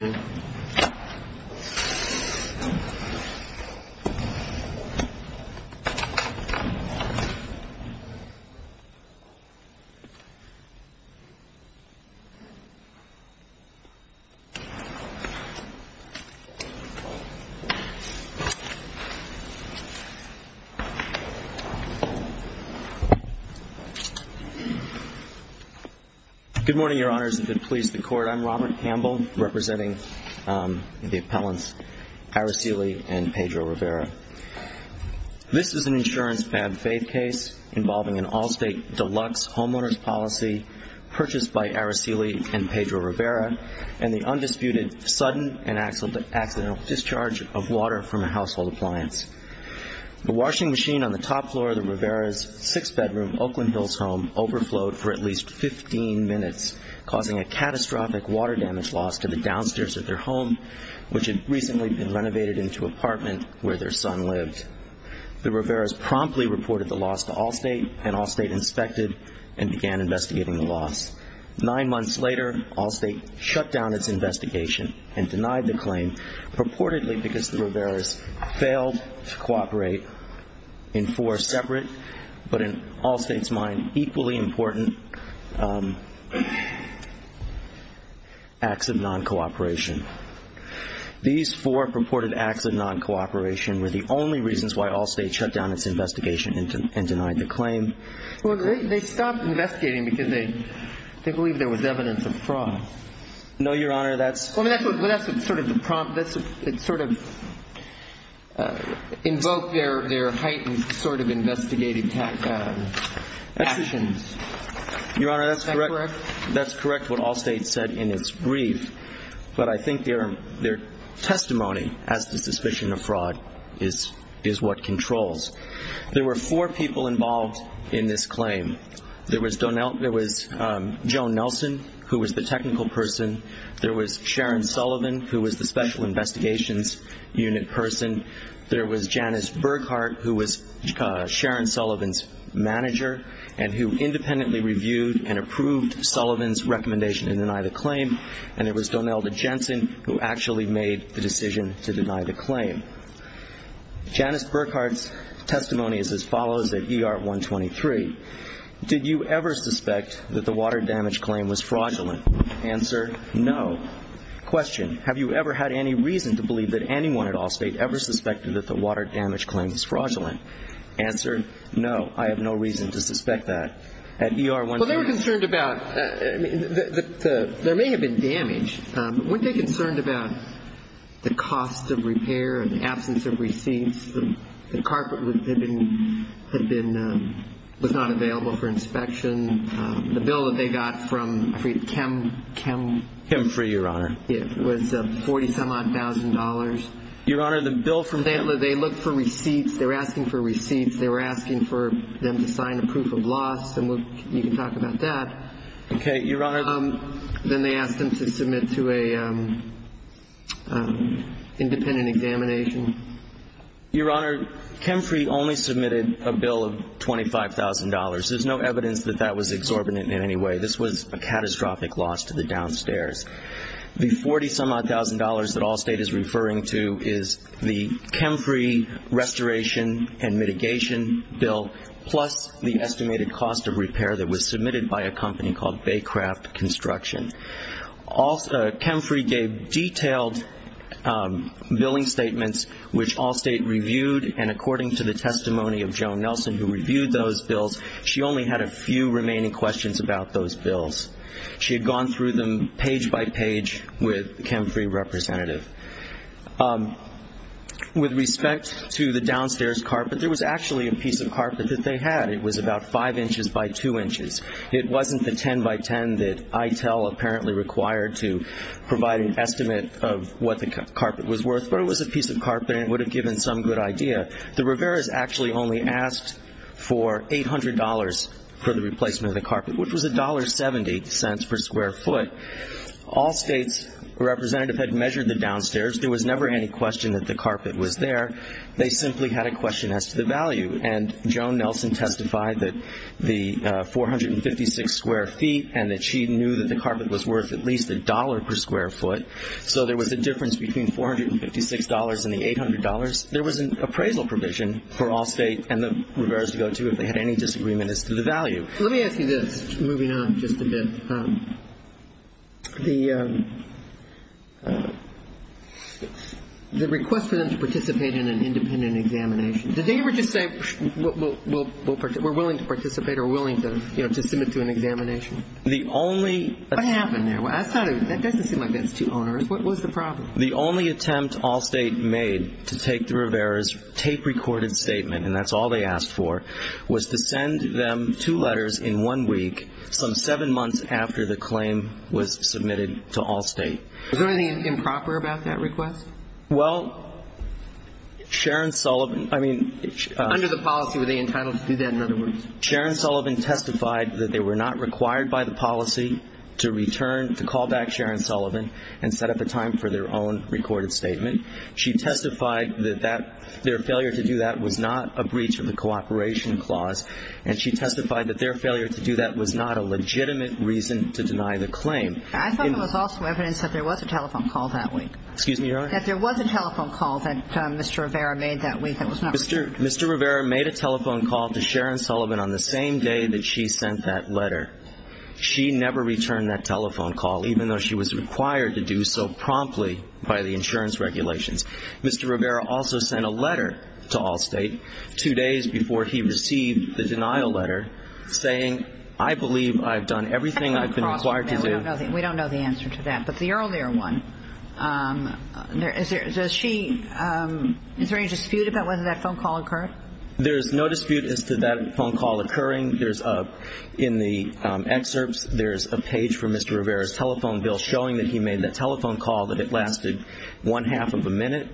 Good morning, Your Honors. If it pleases the Court, I'm Robert Campbell, representing the appellants Araceli and Pedro Rivera. This is an insurance bad faith case involving an Allstate deluxe homeowner's policy purchased by Araceli and Pedro Rivera and the undisputed sudden and accidental discharge of water from a household appliance. The washing machine on the top floor of the Rivera's six-bedroom Oakland Hills home overflowed for at least 15 minutes, causing a catastrophic water damage loss to the downstairs of their home, which had recently been renovated into an apartment where their son lived. The Rivera's promptly reported the loss to Allstate, and Allstate inspected and began investigating the loss. Nine months later, Allstate shut down its investigation and denied the claim, purportedly because the Rivera's failed to cooperate in four separate, but in Allstate's mind, equally important acts of non-cooperation. These four purported acts of non-cooperation were the only reasons why Allstate shut down its investigation and denied the claim. Well, they stopped investigating because they believed there was evidence of fraud. No, Your Honor, that's Well, that's sort of the prompt. It sort of invoked their heightened sort of investigative actions. Your Honor, that's correct. That's correct, what Allstate said in its brief. But I think their testimony as to suspicion of fraud is what controls. There were four people involved in this claim. There was Joan Nelson, who was the technical person. There was Sharon Sullivan, who was the special investigations unit person. There was Janice Burghardt, who was Sharon Sullivan's manager and who independently reviewed and approved Sullivan's recommendation to deny the claim. And there was Donelda Jensen, who actually made the decision to deny the claim. Janice Burghardt's testimony is as follows at ER 123. Did you ever suspect that the water damage claim was fraudulent? Answered, no. Question, have you ever had any reason to believe that anyone at Allstate ever suspected that the water damage claim was fraudulent? Answered, no. I have no reason to suspect that. At ER 123 Well, they were concerned about there may have been damage, but weren't they concerned about the cost of repair and the absence of receipts? The carpet had been, was not available for inspection. The bill that they got from, I forget, CHEM, CHEM, CHEM for your honor. It was 40 some odd thousand dollars. Your honor, the bill for, they looked for receipts. They were asking for receipts. They were asking for them to sign a proof of loss and you can talk about that. Then they asked them to submit to a independent examination. Your honor, CHEMFRI only submitted a bill of $25,000. There's no evidence that that was exorbitant in any way. This was a catastrophic loss to the downstairs. The 40 some odd thousand dollars that Allstate is referring to is the CHEMFRI restoration and mitigation bill plus the estimated cost of repair that was submitted by a company called Baycraft Construction. CHEMFRI gave detailed billing statements which Allstate reviewed and according to the testimony of Joan Nelson who reviewed those bills, she only had a few remaining questions about those bills. She had gone through them page by page with the CHEMFRI representative. With respect to the downstairs carpet, there was actually a piece of carpet that they had. It was about 5 inches by 2 inches. It wasn't the 10 by 10 that ITEL apparently required to provide an estimate of what the carpet was worth, but it was a piece of carpet and it would have given some good idea. The Riveras actually only asked for $800 for the replacement of the carpet, which was $1.70 per square foot. Allstate's representative had measured the downstairs. There was never any question that the carpet was there. They simply had a question as to the value. Joan Nelson testified that the 456 square feet and that she knew that the carpet was worth at least a dollar per square foot. So there was a difference between $456 and the $800. There was an appraisal provision for Allstate and the Riveras to go to if they had any disagreement as to the value. Let me ask you this, moving on just a bit. The request for them to participate in an independent examination, did they ever just say, we're willing to participate or willing to submit to an examination? What happened there? That doesn't seem like that's too onerous. What was the problem? The only attempt Allstate made to take the Riveras' tape-recorded statement, and that's all they asked for, was to send them two letters in one week, some seven months after the claim was submitted to Allstate. Was there anything improper about that request? Well, Sharon Sullivan, I mean – Under the policy, were they entitled to do that, in other words? Sharon Sullivan testified that they were not required by the policy to return, to call back Sharon Sullivan and set up a time for their own recorded statement. She testified that their failure to do that was not a breach of the cooperation clause, and she testified that their failure to do that was not a legitimate reason to deny the claim. I thought there was also evidence that there was a telephone call that week. Excuse me, Your Honor? That there was a telephone call that Mr. Rivera made that week that was not – Mr. Rivera made a telephone call to Sharon Sullivan on the same day that she sent that letter. She never returned that telephone call, even though she was required to do so Mr. Rivera also sent a letter to Allstate two days before he received the denial letter saying, I believe I've done everything I've been required to do. We don't know the answer to that, but the earlier one, does she – is there any dispute about whether that phone call occurred? There is no dispute as to that phone call occurring. There's a – in the excerpts, there's a page from Mr. Rivera's telephone bill showing that he made that telephone call that had lasted one-half of a minute,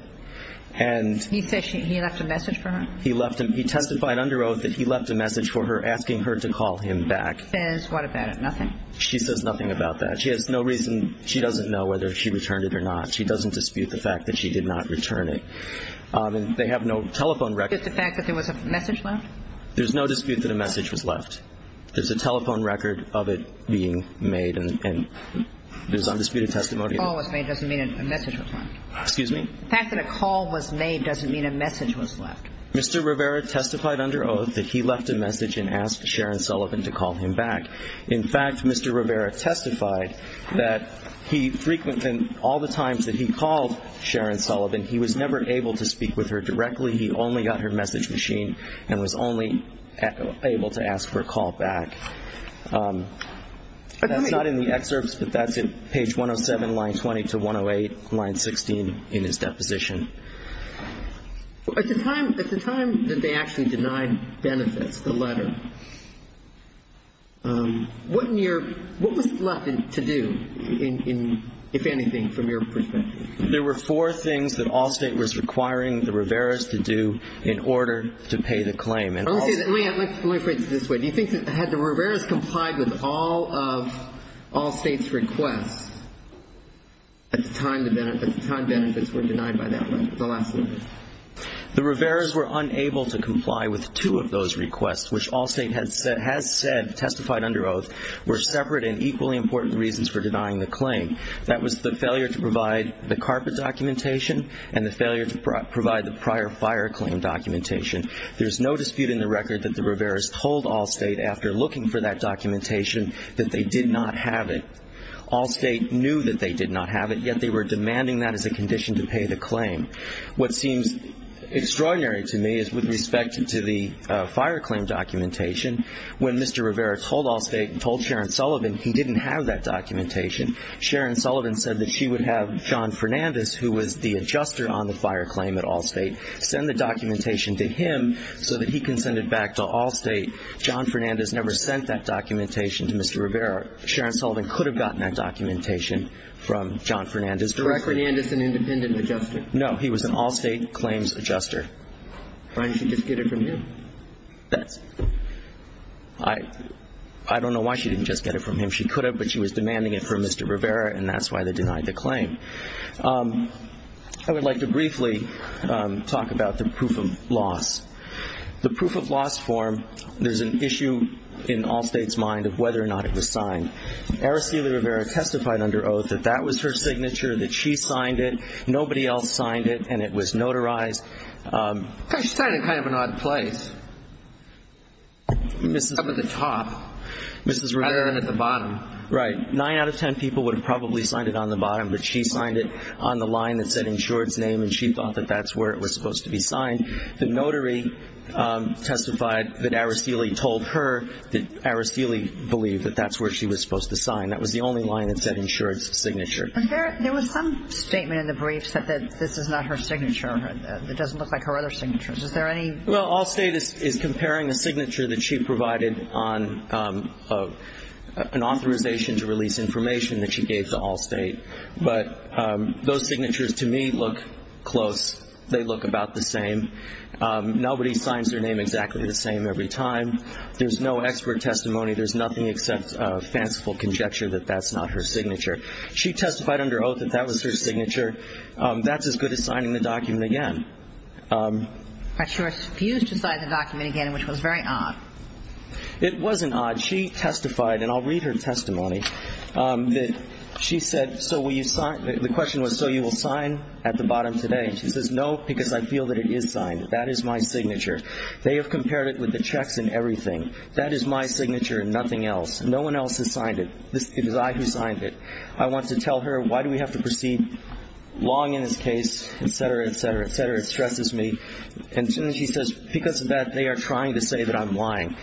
and – He said he left a message for her? He left a – he testified under oath that he left a message for her asking her to call him back. Says what about it? Nothing? She says nothing about that. She has no reason – she doesn't know whether she returned it or not. She doesn't dispute the fact that she did not return it. And they have no telephone record – Just the fact that there was a message left? There's no dispute that a message was left. There's a telephone record of it being made and there's undisputed testimony – The fact that a call was made doesn't mean a message was left. Excuse me? The fact that a call was made doesn't mean a message was left. Mr. Rivera testified under oath that he left a message and asked Sharon Sullivan to call him back. In fact, Mr. Rivera testified that he frequently – all the times that he called Sharon Sullivan, he was never able to speak with her directly. He only got her message machine and was only able to ask for a call back. But let me – Page 107, line 20 to 108, line 16 in his deposition. At the time that they actually denied benefits, the letter, what was left to do, if anything, from your perspective? There were four things that Allstate was requiring the Riveras to do in order to pay the claim. Let me put it this way. Do you think that had the Riveras complied with all of Allstate's requests at the time benefits were denied by that letter, the last letter? The Riveras were unable to comply with two of those requests, which Allstate has said testified under oath, were separate and equally important reasons for denying the claim. That was the failure to provide the carpet documentation and the failure to provide the prior fire claim documentation. There's no dispute in the record that the Riveras told Allstate after looking for that documentation that they did not have it. Allstate knew that they did not have it, yet they were demanding that as a condition to pay the claim. What seems extraordinary to me is with respect to the fire claim documentation. When Mr. Rivera told Allstate, told Sharon Sullivan, he didn't have that documentation. Sharon Sullivan said that she would have John Fernandez, who was the adjuster on the fire claim at the time, send the documentation to him so that he can send it back to Allstate. John Fernandez never sent that documentation to Mr. Rivera. Sharon Sullivan could have gotten that documentation from John Fernandez directly. Was John Fernandez an independent adjuster? No. He was an Allstate claims adjuster. Why didn't she just get it from him? I don't know why she didn't just get it from him. She could have, but she was demanding it from Mr. Rivera, and that's why they denied the claim. I would like to briefly talk about the proof of loss. The proof of loss form, there's an issue in Allstate's mind of whether or not it was signed. Araceli Rivera testified under oath that that was her signature, that she signed it. Nobody else signed it, and it was notarized. She signed it kind of in an odd place. Up at the top, rather than at the bottom. Right. Nine out of ten people would have probably signed it on the bottom, but she signed it on the line that said insured's name, and she thought that that's where it was supposed to be signed. The notary testified that Araceli told her that Araceli believed that that's where she was supposed to sign. That was the only line that said insured's signature. But there was some statement in the briefs that this is not her signature, that it doesn't look like her other signatures. Is there any? Well, Allstate is comparing a signature that she provided on an authorization to release information that she gave to Allstate. But those signatures, to me, look close. They look about the same. Nobody signs their name exactly the same every time. There's no expert testimony. There's nothing except fanciful conjecture that that's not her signature. She testified under oath that that was her signature. That's as good as signing the document again. But you refused to sign the document again, which was very odd. It wasn't odd. She testified, and I'll read her testimony, that she said, so will you sign? The question was, so you will sign at the bottom today? She says, no, because I feel that it is signed. That is my signature. They have compared it with the checks and everything. That is my signature and nothing else. No one else has signed it. It was I who signed it. I want to tell her, why do we have to proceed long in this case, et cetera, et cetera, et cetera. It stresses me. And she says, because of that, they are trying to say that I'm lying.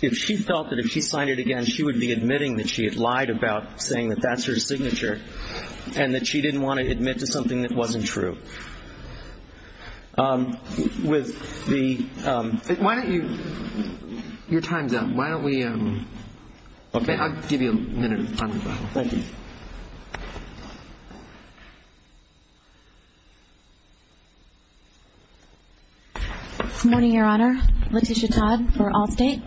If she felt that if she signed it again, she would be admitting that she had lied about saying that that's her signature and that she didn't want to admit to something that wasn't true. With the — Why don't you — your time's up. Why don't we — I'll give you a minute on the file. Thank you. Good morning, Your Honor. Letitia Todd for Allstate.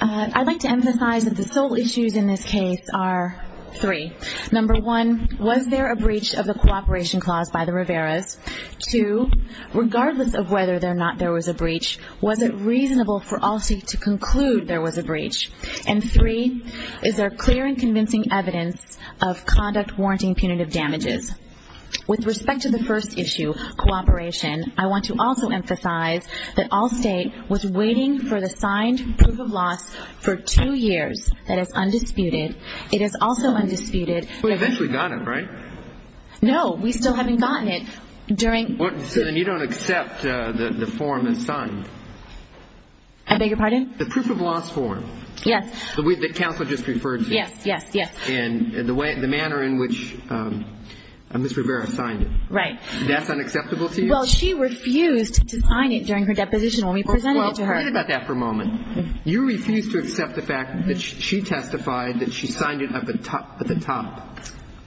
I'd like to emphasize that the sole issues in this case are three. Number one, was there a breach of the cooperation clause by the Riveras? Two, regardless of whether or not there was a breach, was it reasonable for Allstate to conclude there was a breach? And three, is there clear and convincing evidence of conduct warranting punitive damages? With respect to the first issue, cooperation, I want to also emphasize that Allstate was waiting for the signed proof of loss for two years. That is undisputed. It is also undisputed — We eventually got it, right? No. We still haven't gotten it during — So then you don't accept the form that's signed? I beg your pardon? The proof of loss form. Yes. The one that counsel just referred to. Yes, yes, yes. And the way — the manner in which Ms. Rivera signed it. Right. That's unacceptable to you? Well, she refused to sign it during her deposition when we presented it to her. Well, forget about that for a moment. You refused to accept the fact that she testified that she signed it at the top,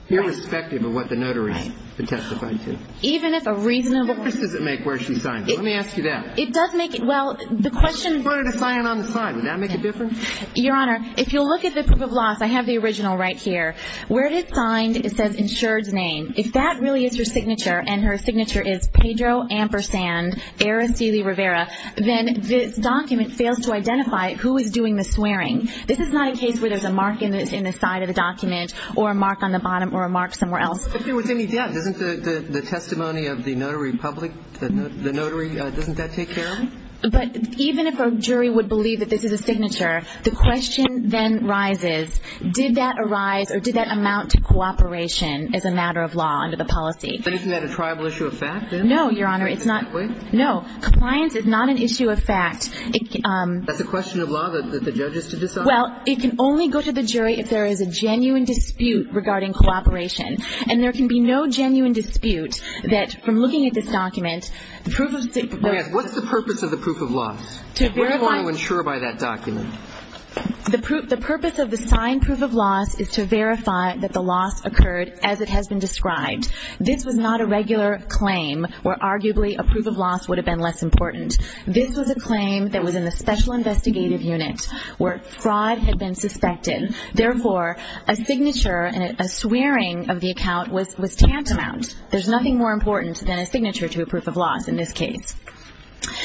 irrespective of what the notaries had testified to. Even if a reasonable — What difference does it make where she signed it? Let me ask you that. It does make it — well, the question — What difference would it make to sign it on the side? Would that make a difference? Your Honor, if you'll look at the proof of loss, I have the original right here. Where it is signed, it says insured's name. If that really is her signature, and her signature is Pedro Ampersand Araceli Rivera, then this document fails to identify who is doing the swearing. This is not a case where there's a mark in the side of the document or a mark on the bottom or a mark somewhere else. But if there was any doubt, doesn't the testimony of the notary public, the notary, doesn't that take care of it? But even if a jury would believe that this is a signature, the question then rises, did that arise or did that amount to cooperation as a matter of law under the policy? But if you had a tribal issue of fact, then — No, Your Honor, it's not — Wait. No. Compliance is not an issue of fact. That's a question of law that the judge has to decide? Well, it can only go to the jury if there is a genuine dispute regarding cooperation. And there can be no genuine dispute that from looking at this document, the proof of — What's the purpose of the proof of loss? To verify — Where do you want to insure by that document? The purpose of the signed proof of loss is to verify that the loss occurred as it has been described. This was not a regular claim where arguably a proof of loss would have been less important. This was a claim that was in the special investigative unit where fraud had been suspected. Therefore, a signature and a swearing of the account was tantamount. There's nothing more important than a signature to a proof of loss in this case.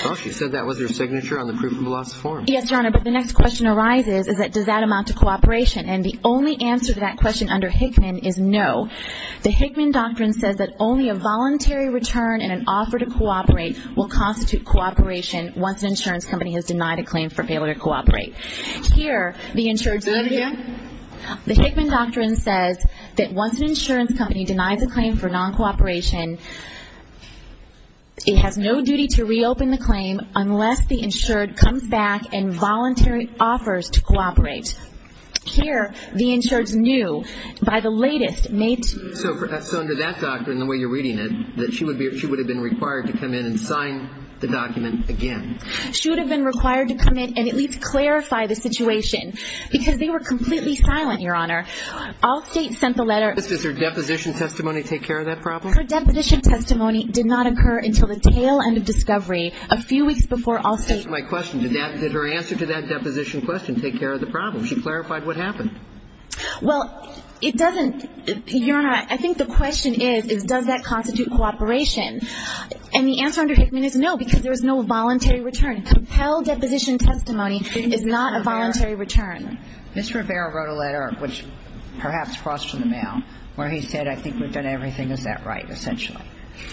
Well, she said that was her signature on the proof of loss form. Yes, Your Honor, but the next question arises is that does that amount to cooperation? And the only answer to that question under Hickman is no. The Hickman doctrine says that only a voluntary return and an offer to cooperate will constitute cooperation once an insurance company has denied a claim for failure to cooperate. Here, the insured — Do I have a hand? The Hickman doctrine says that once an insurance company denies a claim for non-cooperation, it has no duty to reopen the claim unless the insured comes back and voluntarily offers to cooperate. Here, the insured knew by the latest — So under that doctrine, the way you're reading it, that she would have been required to come in and sign the document again. She would have been required to come in and at least clarify the situation because they were completely silent, Your Honor. Allstate sent the letter — Does her deposition testimony take care of that problem? Her deposition testimony did not occur until the tail end of discovery a few weeks before Allstate — That's my question. Did her answer to that deposition question take care of the problem? She clarified what happened. Well, it doesn't — Your Honor, I think the question is does that constitute cooperation? And the answer under Hickman is no, because there was no voluntary return. Compelled deposition testimony is not a voluntary return. Ms. Rivera wrote a letter, which perhaps crossed in the mail, where he said, I think we've done everything. Is that right, essentially?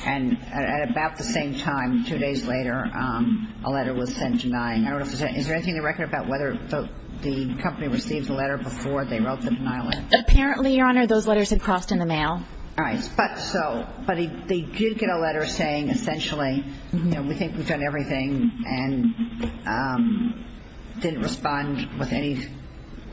And at about the same time, two days later, a letter was sent denying. Is there anything in the record about whether the company received the letter before they wrote the denial letter? Apparently, Your Honor, those letters had crossed in the mail. All right. But so — but they did get a letter saying essentially, you know, we think we've done everything and didn't respond with any —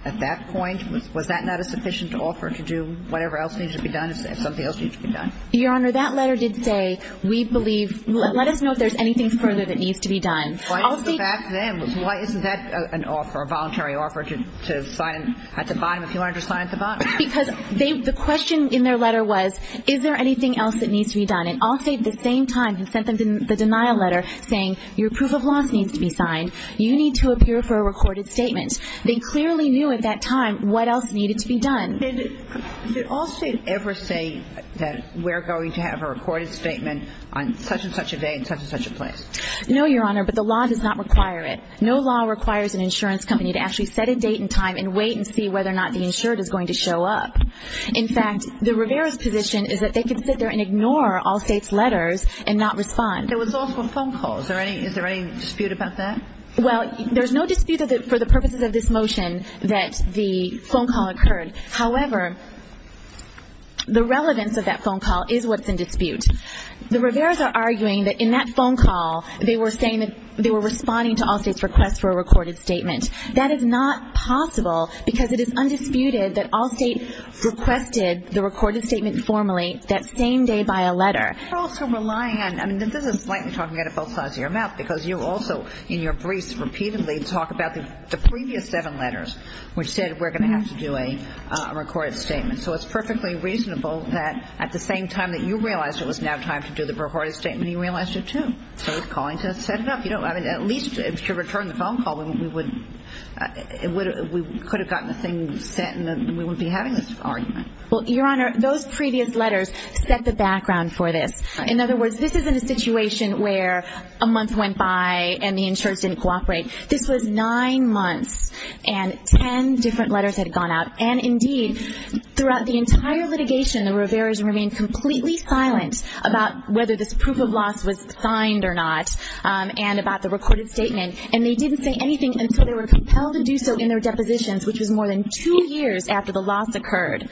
at that point, was that not a sufficient offer to do whatever else needed to be done if something else needed to be done? Your Honor, that letter did say, we believe — let us know if there's anything further that needs to be done. Allstate — Why is that then? Why isn't that an offer, a voluntary offer to sign at the bottom if you wanted to sign at the bottom? Because they — the question in their letter was, is there anything else that needs to be done? And Allstate, at the same time, had sent them the denial letter saying, your proof of loss needs to be signed. You need to appear for a recorded statement. They clearly knew at that time what else needed to be done. Did Allstate ever say that we're going to have a recorded statement on such-and-such a day in such-and-such a place? No, Your Honor, but the law does not require it. No law requires an insurance company to actually set a date and time and wait and see whether or not the insured is going to show up. In fact, the Rivera's position is that they can sit there and ignore Allstate's letters and not respond. There was also a phone call. Is there any dispute about that? Well, there's no dispute for the purposes of this motion that the phone call occurred. However, the relevance of that phone call is what's in dispute. The Rivera's are arguing that in that phone call, they were saying that they were responding to Allstate's request for a recorded statement. That is not possible because it is undisputed that Allstate requested the recorded statement formally that same day by a letter. You're also relying on – I mean, this is slightly talking out of both sides of your mouth because you also, in your briefs, repeatedly talk about the previous seven letters which said we're going to have to do a recorded statement. So it's perfectly reasonable that at the same time that you realized it was now time to do the recorded statement, you realized it too. So it's calling to set it up. At least to return the phone call, we could have gotten the thing sent and we wouldn't be having this argument. Well, Your Honor, those previous letters set the background for this. In other words, this isn't a situation where a month went by and the insurers didn't cooperate. This was nine months and ten different letters had gone out. And indeed, throughout the entire litigation, the Rivera's remained completely silent about whether this proof of loss was signed or not and about the recorded statement. And they didn't say anything until they were compelled to do so in their depositions, which was more than two years after the loss occurred.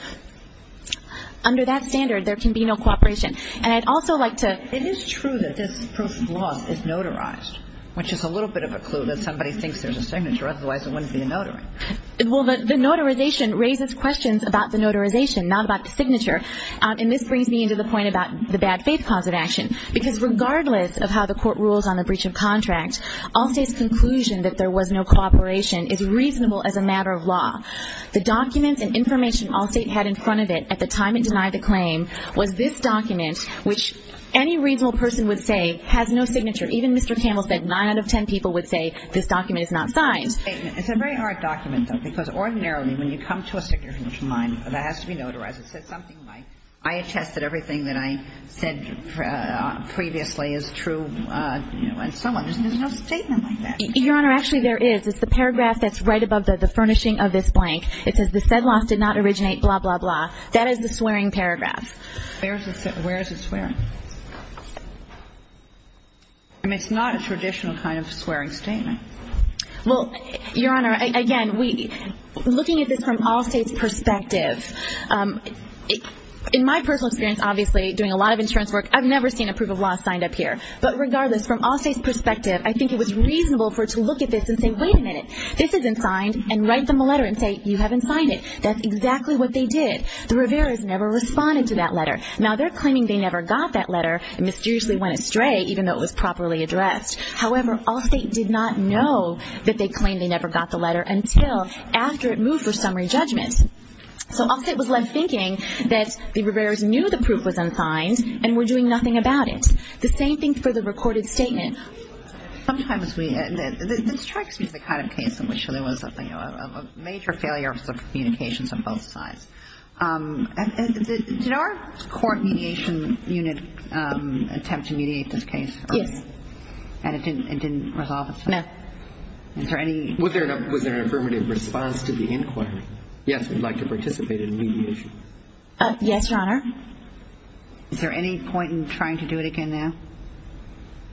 Under that standard, there can be no cooperation. And I'd also like to – It is true that this proof of loss is notarized, which is a little bit of a clue that somebody thinks there's a signature. Otherwise, it wouldn't be a notary. Well, the notarization raises questions about the notarization, not about the signature. And this brings me into the point about the bad faith cause of action. Because regardless of how the Court rules on a breach of contract, Allstate's conclusion that there was no cooperation is reasonable as a matter of law. The documents and information Allstate had in front of it at the time it denied the claim was this document, which any reasonable person would say has no signature. Even Mr. Campbell said nine out of ten people would say this document is not signed. It's a very hard document, though, because ordinarily when you come to a signature from a client that has to be notarized, it says something like, I attest that everything that I said previously is true and so on. There's no statement like that. Your Honor, actually there is. It's the paragraph that's right above the furnishing of this blank. It says the said loss did not originate, blah, blah, blah. That is the swearing paragraph. Where is it swearing? I mean, it's not a traditional kind of swearing statement. Well, Your Honor, again, looking at this from Allstate's perspective, in my personal experience, obviously, doing a lot of insurance work, I've never seen a proof of loss signed up here. But regardless, from Allstate's perspective, I think it was reasonable for it to look at this and say, wait a minute, this isn't signed, and write them a letter and say, you haven't signed it. That's exactly what they did. The Rivera's never responded to that letter. Now, they're claiming they never got that letter and mysteriously went astray even though it was properly addressed. However, Allstate did not know that they claimed they never got the letter until after it moved for summary judgment. So Allstate was left thinking that the Rivera's knew the proof was unsigned and were doing nothing about it. The same thing for the recorded statement. Sometimes we, this strikes me as the kind of case in which there was a major failure of the communications of both sides. Did our court mediation unit attempt to mediate this case? Yes. And it didn't resolve itself? No. Was there an affirmative response to the inquiry? Yes, we'd like to participate in mediation. Yes, Your Honor. Is there any point in trying to do it again now?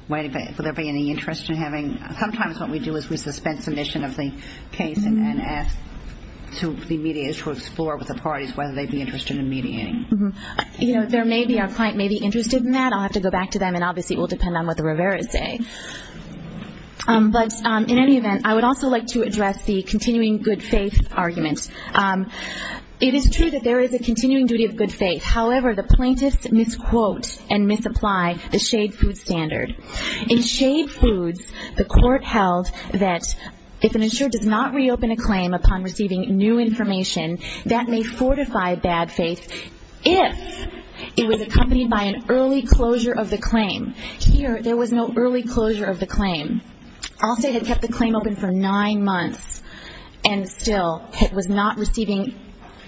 Would there be any interest in having, sometimes what we do is we suspend submission of the case and ask the mediators to explore with the parties whether they'd be interested in mediating. You know, there may be, our client may be interested in that. I'll have to go back to them and obviously it will depend on what the Rivera's say. But in any event, I would also like to address the continuing good faith argument. It is true that there is a continuing duty of good faith. However, the plaintiffs misquote and misapply the Shade Foods standard. In Shade Foods, the court held that if an insurer does not reopen a claim upon receiving new information, that may fortify bad faith if it was accompanied by an early closure of the claim. Here, there was no early closure of the claim. Allstate had kept the claim open for nine months and still it was not receiving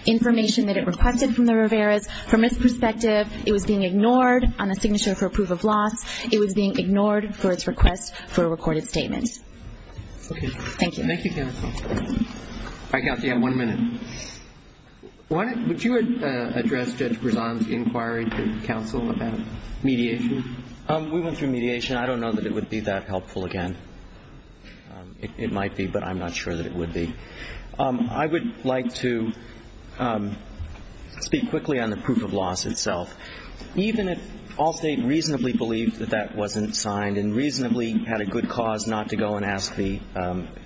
information that it requested from the Rivera's. From its perspective, it was being ignored on a signature for proof of loss. It was being ignored for its request for a recorded statement. Thank you. Thank you, counsel. All right, counsel, you have one minute. Would you address Judge Prezan's inquiry to counsel about mediation? We went through mediation. I don't know that it would be that helpful again. It might be, but I'm not sure that it would be. I would like to speak quickly on the proof of loss itself. Even if Allstate reasonably believed that that wasn't signed and reasonably had a good cause not to go and ask the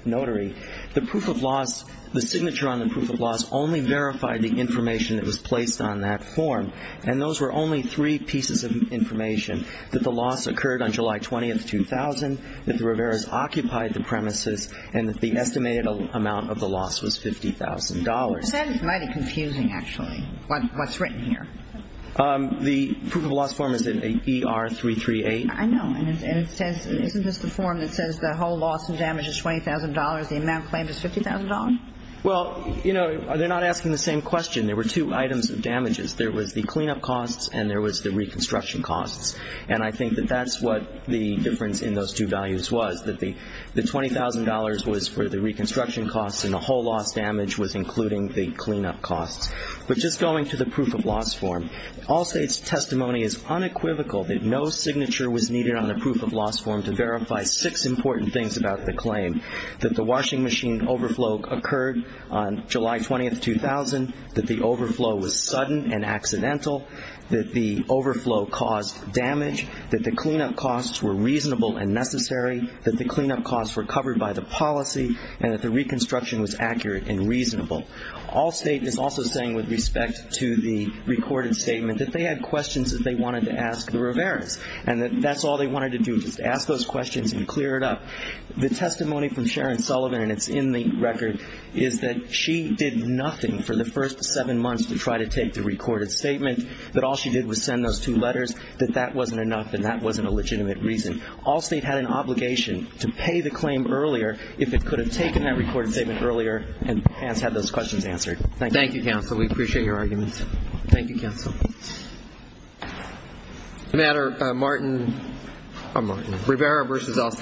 notary, the proof of loss, the signature on the proof of loss only verified the information that was placed on that form. And those were only three pieces of information. That the loss occurred on July 20, 2000. That the Riveras occupied the premises and that the estimated amount of the loss was $50,000. That is mighty confusing, actually, what's written here. The proof of loss form is in ER338. I know. And it says, isn't this the form that says the whole loss and damage is $20,000 and the amount claimed is $50,000? Well, you know, they're not asking the same question. There were two items of damages. There was the cleanup costs and there was the reconstruction costs. And I think that that's what the difference in those two values was. That the $20,000 was for the reconstruction costs and the whole loss damage was including the cleanup costs. But just going to the proof of loss form, Allstate's testimony is unequivocal that no signature was needed on the proof of loss form to verify six important things about the claim. That the washing machine overflow occurred on July 20, 2000. That the overflow was sudden and accidental. That the overflow caused damage. That the cleanup costs were reasonable and necessary. That the cleanup costs were covered by the policy and that the reconstruction was accurate and reasonable. Allstate is also saying with respect to the recorded statement that they had questions that they wanted to ask the Rivera's and that that's all they wanted to do was to ask those questions and clear it up. The testimony from Sharon Sullivan and it's in the record is that she did nothing for the first seven months to try to take the recorded statement. That all she did was send those two letters. That that wasn't enough and that wasn't a legitimate reason. Allstate had an obligation to pay the claim earlier if it could have taken that recorded statement earlier and had those questions answered. Thank you. Thank you, counsel. We appreciate your arguments. Thank you, counsel. No matter. Martin. I'm Martin. Rivera versus Allstate.